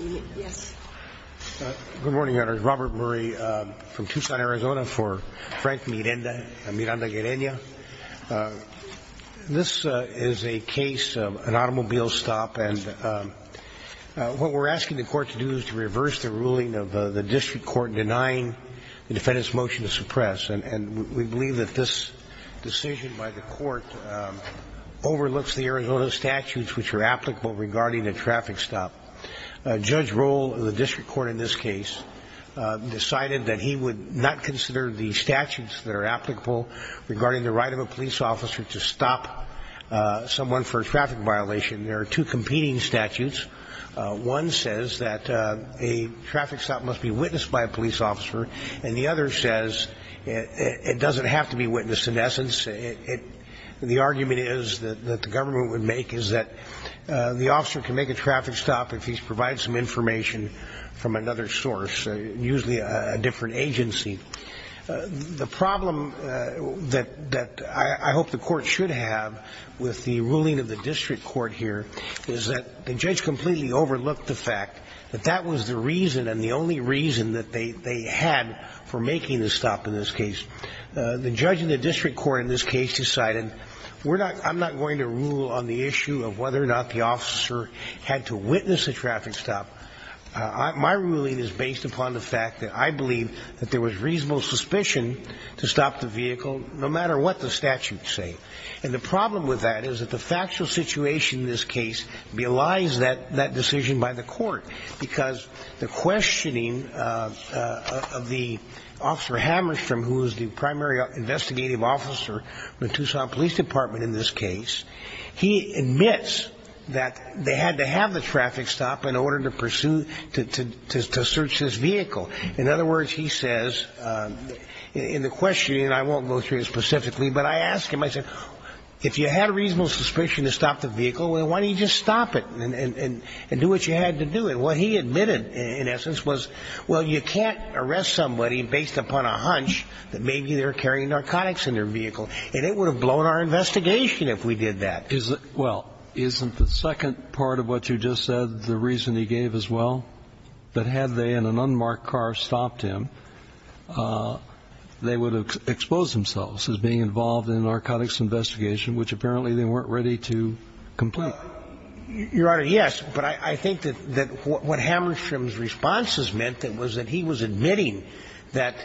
MIRANDA GUERREÑA. Good morning, Your Honors. Robert Murray from Tucson, Arizona, for Frank Miranda, Miranda Guerreña. This is a case of an automobile stop, and what we're asking the Court to do is to reverse the ruling of the district court denying the defendant's motion to suppress. And we believe that this decision by the Court overlooks the Arizona statutes which are applicable regarding a traffic stop. Judge Roll of the district court in this case decided that he would not consider the statutes that are applicable regarding the right of a police officer to stop someone for a traffic violation. There are two competing statutes. One says that a traffic stop must be witnessed by a police officer, and the other says it doesn't have to be witnessed. In essence, the argument is that the government would make is that the officer can make a traffic stop if he's provided some information from another source, usually a different agency. The problem that I hope the Court should have with the ruling of the district court here is that the judge completely overlooked the fact that that was the reason and the only reason that they had for making the stop in this case. The judge in the district court in this case decided, I'm not going to rule on the issue of whether or not the officer had to witness a traffic stop. My ruling is based upon the fact that I believe that there was reasonable suspicion to stop the vehicle no matter what the statutes say. And the problem with that is that the factual situation in this case belies that decision by the Court, because the questioning of the officer Hammerstrom, who is the primary investigative officer in the Tucson Police Department in this case, he admits that they had to have the traffic stop in order to pursue, to search this vehicle. In other words, he says in the questioning, and I won't go through it specifically, but I asked him, I said, if you had a reasonable suspicion to stop the vehicle, well, why don't you just stop it and do what you had to do? And what he admitted, in essence, was, well, you can't arrest somebody based upon a hunch that maybe they're carrying narcotics in their vehicle. And it would have blown our investigation if we did that. Well, isn't the second part of what you just said the reason he gave as well? That had they, in an unmarked car, stopped him, they would have exposed themselves as being involved in a narcotics investigation, which apparently they weren't ready to complete. Well, Your Honor, yes. But I think that what Hammerstrom's responses meant was that he was admitting that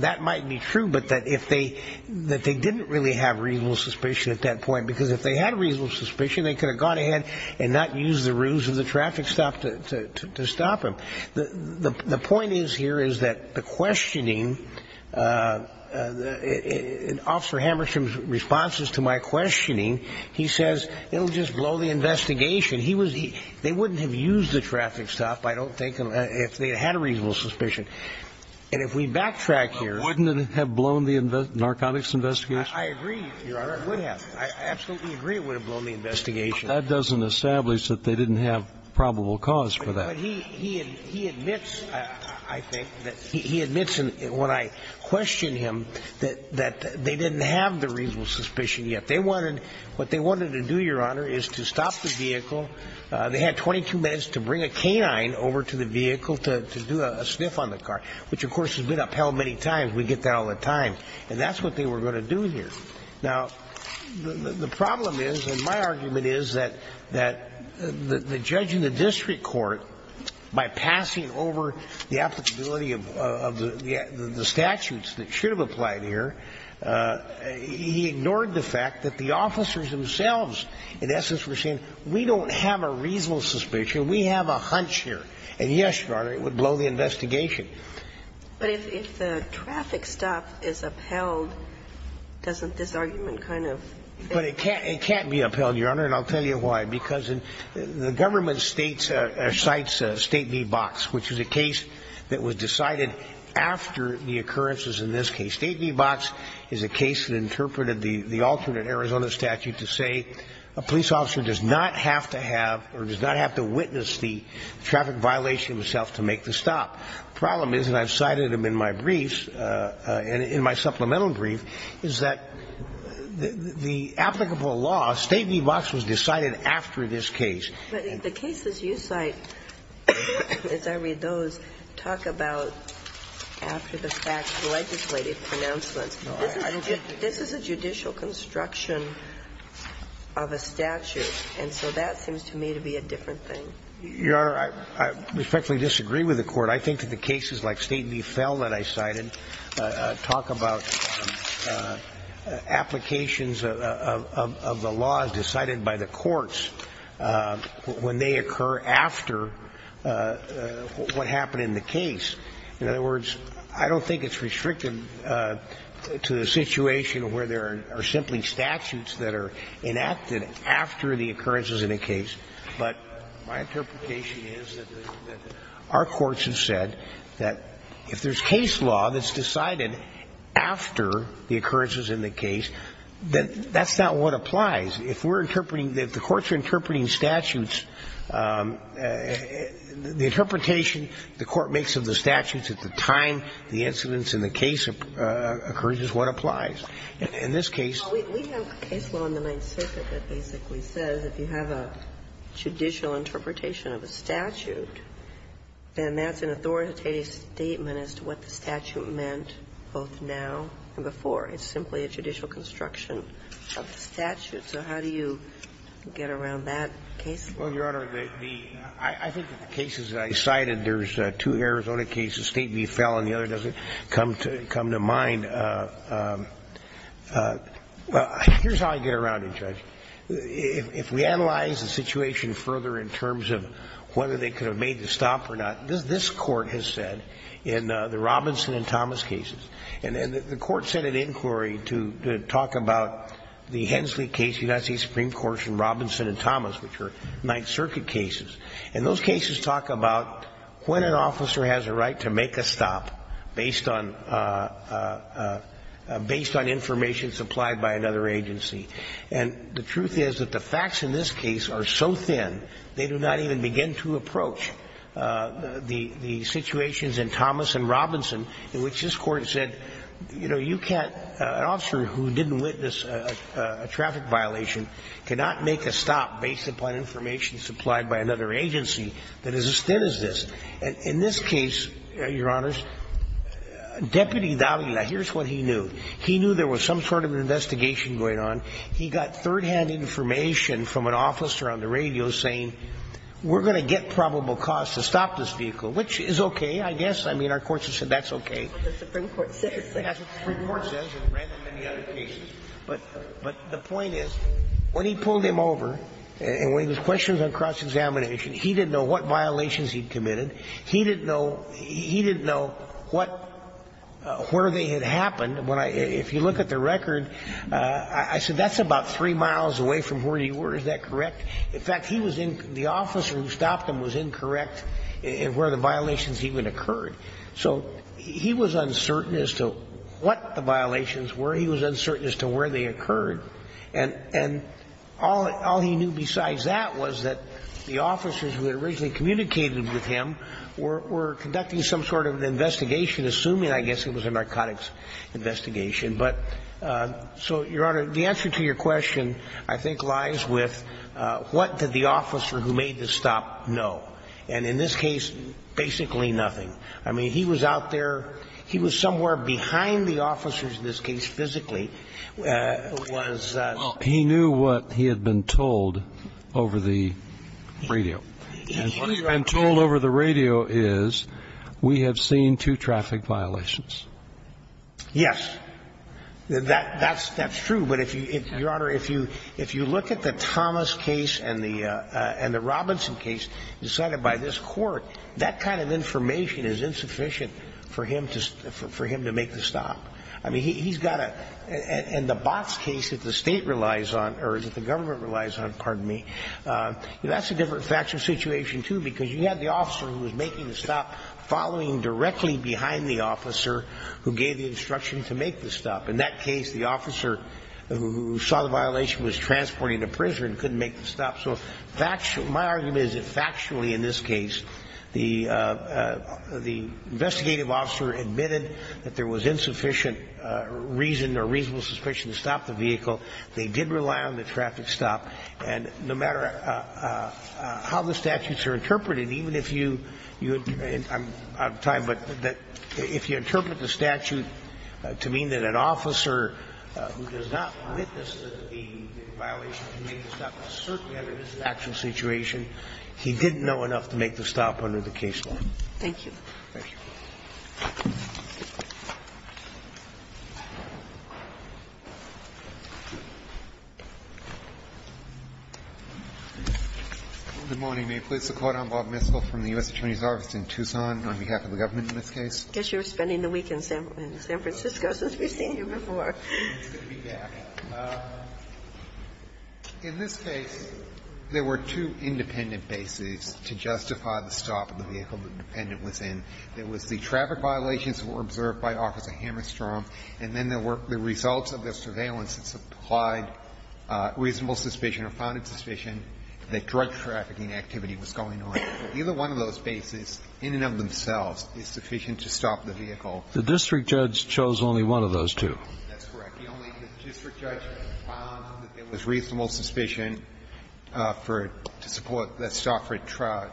that might be true, but that they didn't really have reasonable suspicion at that point, because if they had reasonable suspicion, they could have gone ahead and not used the rules of the traffic stop to stop him. The point is here is that the questioning, Officer Hammerstrom's responses to my question, he says, it'll just blow the investigation. They wouldn't have used the traffic stop, I don't think, if they had a reasonable suspicion. And if we backtrack here... Wouldn't it have blown the narcotics investigation? I agree, Your Honor, it would have. I absolutely agree it would have blown the investigation. That doesn't establish that they didn't have probable cause for that. But he admits, I think, he admits when I question him that they didn't have the reasonable suspicion yet. What they wanted to do, Your Honor, is to stop the vehicle. They had 22 minutes to bring a canine over to the vehicle to do a sniff on the car, which, of course, has been upheld many times. We get that all the time. And that's what they were going to do here. Now, the problem is, and my argument is, that the judge in the district court, by passing over the applicability of the statutes that should have applied here, he ignored the fact that the officers themselves, in essence, were saying, we don't have a reasonable suspicion, we have a hunch here. And, yes, Your Honor, it would blow the investigation. But if the traffic stop is upheld, doesn't this argument kind of... But it can't be upheld, Your Honor, and I'll tell you why. Because the government states or cites State v. Box, which is a case that was decided after the occurrences in this case. State v. Box is a case that interpreted the alternate Arizona statute to say a police officer does not have to have or does not have to witness the traffic violation himself to make the stop. The problem is, and I've cited them in my briefs, in my supplemental brief, is that the applicable law, State v. Box, was decided after this case. But the cases you cite, as I read those, talk about after-the-fact legislative pronouncements. This is a judicial construction of a statute, and so that seems to me to be a different thing. Your Honor, I respectfully disagree with the Court. I think that the cases like State v. Fell that I cited talk about applications of the laws decided by the courts when they occur after what happened in the case. In other words, I don't think it's restricted to the situation where there are simply statutes that are enacted after the occurrences in a case. But my interpretation is that our courts have said that if there's case law that's not what applies. If we're interpreting, if the courts are interpreting statutes, the interpretation the court makes of the statutes at the time the incidents in the case occurs is what applies. In this case we have case law in the Ninth Circuit that basically says if you have a judicial interpretation of a statute, then that's an authoritative statement as to what the statute meant both now and before. It's simply a judicial construction of the statute. So how do you get around that case? Well, Your Honor, the – I think that the cases that I cited, there's two Arizona cases, State v. Fell and the other doesn't come to mind. Here's how I get around it, Judge. If we analyze the situation further in terms of whether they could have made the stop or not, this Court has said in the Robinson and Thomas cases, and the Court said it to talk about the Hensley case, the United States Supreme Court's in Robinson and Thomas, which are Ninth Circuit cases. And those cases talk about when an officer has a right to make a stop based on – based on information supplied by another agency. And the truth is that the facts in this case are so thin they do not even begin to approach the situations in Thomas and Robinson in which this Court said, you know, an officer who didn't witness a traffic violation cannot make a stop based upon information supplied by another agency that is as thin as this. And in this case, Your Honors, Deputy Davila, here's what he knew. He knew there was some sort of an investigation going on. He got third-hand information from an officer on the radio saying, we're going to get probable cause to stop this vehicle, which is okay, I guess. I mean, our courts have said that's okay. But the point is, when he pulled him over and when he was questioned on cross-examination, he didn't know what violations he'd committed. He didn't know – he didn't know what – where they had happened. When I – if you look at the record, I said that's about three miles away from where he were. Is that correct? In fact, he was in – the officer who stopped him was incorrect in where the violations even occurred. So he was uncertain as to what the violations were. He was uncertain as to where they occurred. And all he knew besides that was that the officers who had originally communicated with him were conducting some sort of an investigation, assuming, I guess, it was a narcotics investigation. But so, Your Honor, the answer to your question, I think, lies with what did the officer who made the stop know. And in this case, basically nothing. I mean, he was out there – he was somewhere behind the officers in this case physically, was – Well, he knew what he had been told over the radio. And what he had been told over the radio is, we have seen two traffic violations. Yes. That's true. But if you – Your Honor, if you look at the Thomas case and the Robinson case decided by this court, that kind of information is insufficient for him to – for him to make the stop. I mean, he's got a – and the Botts case that the state relies on – or that the government relies on, pardon me, that's a different factual situation, too, because you had the officer who was making the stop following directly behind the officer who gave the instruction to make the stop. In that case, the officer who saw the violation was transporting to prison, couldn't make the stop. So fact – my argument is that factually in this case, the – the investigative officer admitted that there was insufficient reason or reasonable suspicion to stop the vehicle. They did rely on the traffic stop. And no matter how the statutes are interpreted, even if you – I'm out of time, but if you interpret the statute to mean that an officer who does not witness the violation of the law can make the stop, certainly under this actual situation, he didn't know enough to make the stop under the case law. Thank you. Thank you. Good morning. May it please the Court. I'm Bob Miskell from the U.S. Attorney's Office in Tucson on behalf of the government in this case. I guess you were spending the week in San – in San Francisco since we've seen you before. It's good to be back. In this case, there were two independent bases to justify the stop of the vehicle the defendant was in. There was the traffic violations that were observed by Officer Hammerstrom, and then there were the results of the surveillance that supplied reasonable suspicion or founded suspicion that drug trafficking activity was going on. But either one of those bases in and of themselves is sufficient to stop the vehicle. The district judge chose only one of those two. That's correct. The only – the district judge found that there was reasonable suspicion for – to support the stop for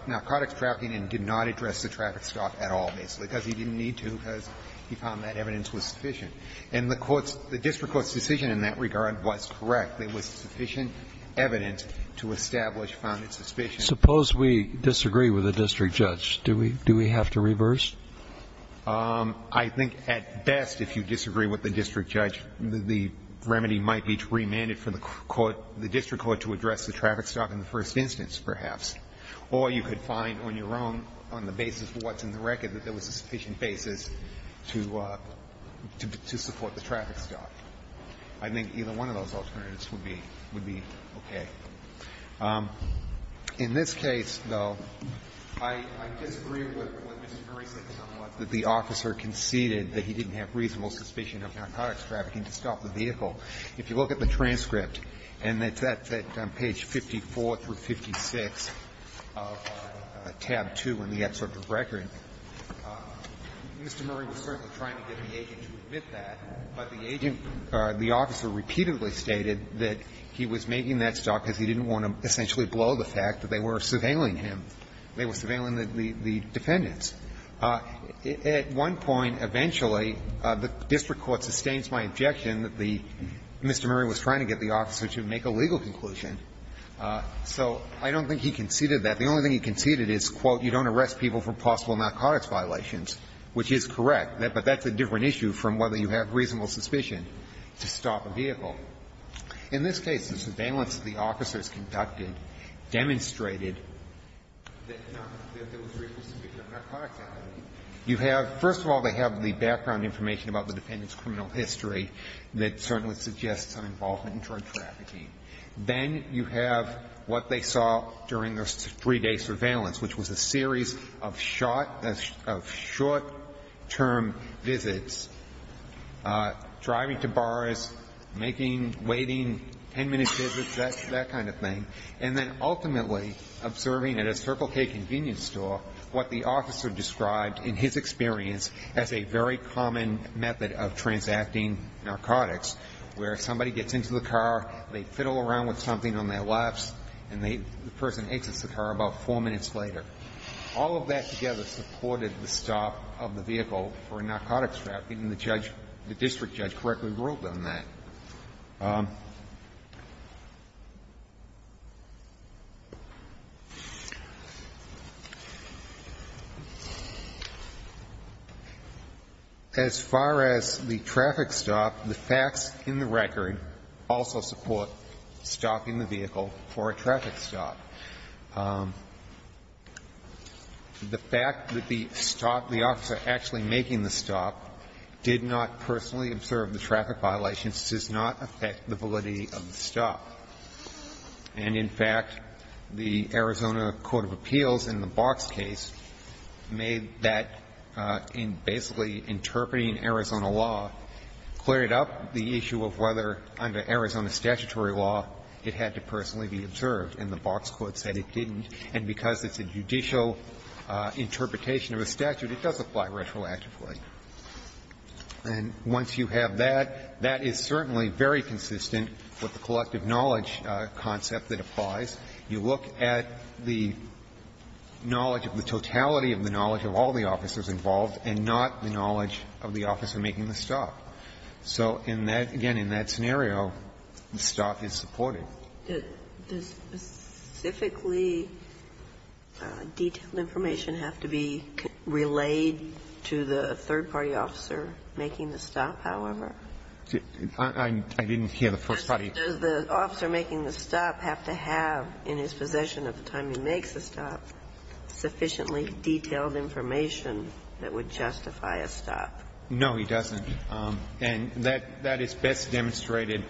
narcotics trafficking and did not address the traffic stop at all, basically, because he didn't need to, because he found that evidence was sufficient. And the Court's – the district court's decision in that regard was correct. There was sufficient evidence to establish founded suspicion. Suppose we disagree with the district judge. Do we – do we have to reverse? I think at best, if you disagree with the district judge, the remedy might be to remand it for the court – the district court to address the traffic stop in the first instance, perhaps. Or you could find on your own, on the basis of what's in the record, that there was a sufficient basis to – to support the traffic stop. I think either one of those alternatives would be – would be okay. In this case, though, I – I disagree with what Mr. Murray said somewhat, that the officer conceded that he didn't have reasonable suspicion of narcotics trafficking to stop the vehicle. If you look at the transcript, and it's at page 54 through 56 of tab 2 in the excerpt of the record, Mr. Murray was certainly trying to get the agent to admit that, but the agent – the officer repeatedly stated that he was making that stop because he didn't want to essentially blow the fact that they were surveilling him. They were surveilling the defendants. At one point, eventually, the district court sustains my objection that the – Mr. Murray was trying to get the officer to make a legal conclusion. So I don't think he conceded that. The only thing he conceded is, quote, you don't arrest people for possible narcotics violations, which is correct. But that's a different issue from whether you have reasonable suspicion to stop a vehicle. In this case, the surveillance the officers conducted demonstrated that there was reasonable suspicion of narcotics trafficking. You have – first of all, they have the background information about the defendant's criminal history that certainly suggests some involvement in drug trafficking. Then you have what they saw during the three-day surveillance, which was a series of short-term visits, driving to bars, making – waiting 10-minute visits, that kind of thing. And then ultimately observing at a Circle K convenience store what the officer described in his experience as a very common method of transacting narcotics, where somebody gets into the car, they fiddle around with something on their laps, and the person exits the car about four minutes later. All of that together supported the stop of the vehicle for a narcotics trafficking, and the judge – the district judge correctly ruled on that. As far as the traffic stop, the facts in the record also support stopping the vehicle for a traffic stop. The fact that the stop – the officer actually making the stop did not personally observe the traffic violations does not affect the validity of the stop. And in fact, the Arizona court of appeals in the Box case made that in basically interpreting Arizona law, cleared up the issue of whether under Arizona statutory law it had to personally be observed. And the Box court said it didn't. And because it's a judicial interpretation of a statute, it does apply retroactively. And once you have that, that is certainly very consistent with the collective knowledge concept that applies. You look at the knowledge of the totality of the knowledge of all the officers involved and not the knowledge of the officer making the stop. So in that – again, in that scenario, the stop is supported. Does specifically detailed information have to be relayed to the third-party officer making the stop, however? I didn't hear the first party. Does the officer making the stop have to have in his possession at the time he makes the stop sufficiently detailed information that would justify a stop? No, he doesn't. And that is best demonstrated,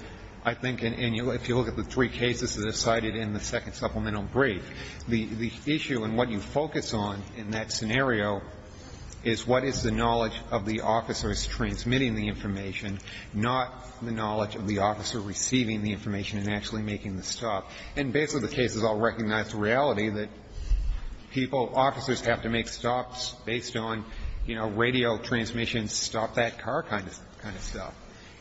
I think, if you look at the three cases that are cited in the second supplemental brief. The issue and what you focus on in that scenario is what is the knowledge of the officers transmitting the information, not the knowledge of the officer receiving the information and actually making the stop. And basically, the case is all recognized to reality that people, officers have to make stops based on, you know, radio transmission, stop that car kind of stuff.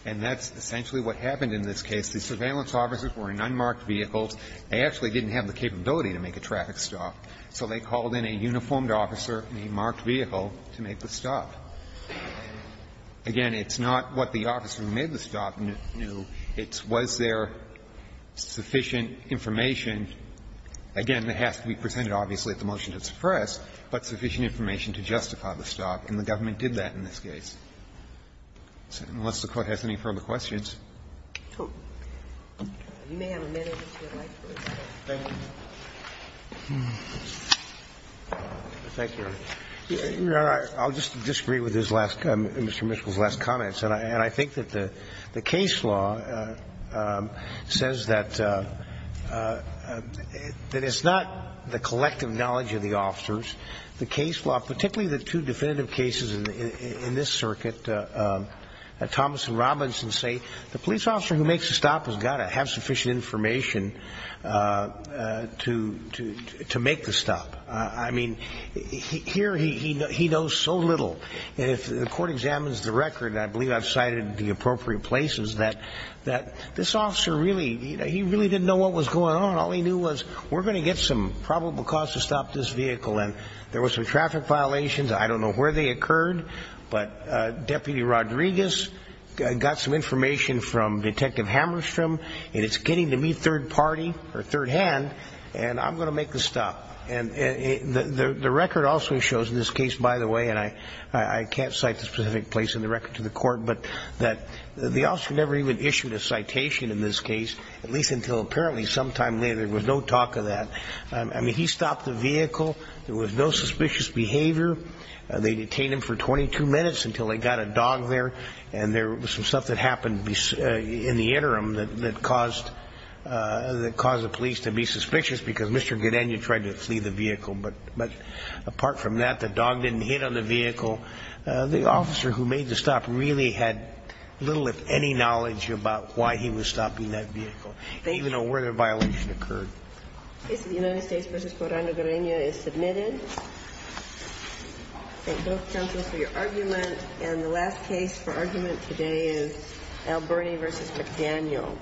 And that's essentially what happened in this case. The surveillance officers were in unmarked vehicles. They actually didn't have the capability to make a traffic stop. So they called in a uniformed officer in a marked vehicle to make the stop. Again, it's not what the officer who made the stop knew. It was their sufficient information. Again, it has to be presented, obviously, at the motion to suppress, but sufficient information to justify the stop. And the government did that in this case. Unless the Court has any further questions. Thank you. I'll just disagree with Mr. Mitchell's last comments. And I think that the case law says that it's not the collective knowledge of the officers. The case law, particularly the two definitive cases in this circuit, Thomas and Robinson say the police officer who makes the stop has got to have sufficient information to make the stop. I mean, here he knows so little. If the Court examines the record, and I believe I've cited the appropriate places, that this officer really didn't know what was going on. All he knew was we're going to get some probable cause to stop this vehicle. And there were some traffic violations. I don't know where they occurred. But Deputy Rodriguez got some information from Detective Hammerstrom, and it's getting to me third party or third hand, and I'm going to make the stop. The record also shows in this case, by the way, and I can't cite the specific place in the record to the Court, but that the officer never even issued a citation in this case, at least until apparently sometime later. There was no talk of that. I mean, he stopped the vehicle. There was no suspicious behavior. They detained him for 22 minutes until they got a dog there. And there was some stuff that happened in the interim that caused the police to be suspicious because Mr. Guerreño tried to flee the vehicle. But apart from that, the dog didn't hit on the vehicle. The officer who made the stop really had little, if any, knowledge about why he was stopping that vehicle. They didn't even know where the violation occurred. The case of the United States v. Coronel Guerreño is submitted. Thank both counsels for your argument. And the last case for argument today is Alberni v. McDaniel.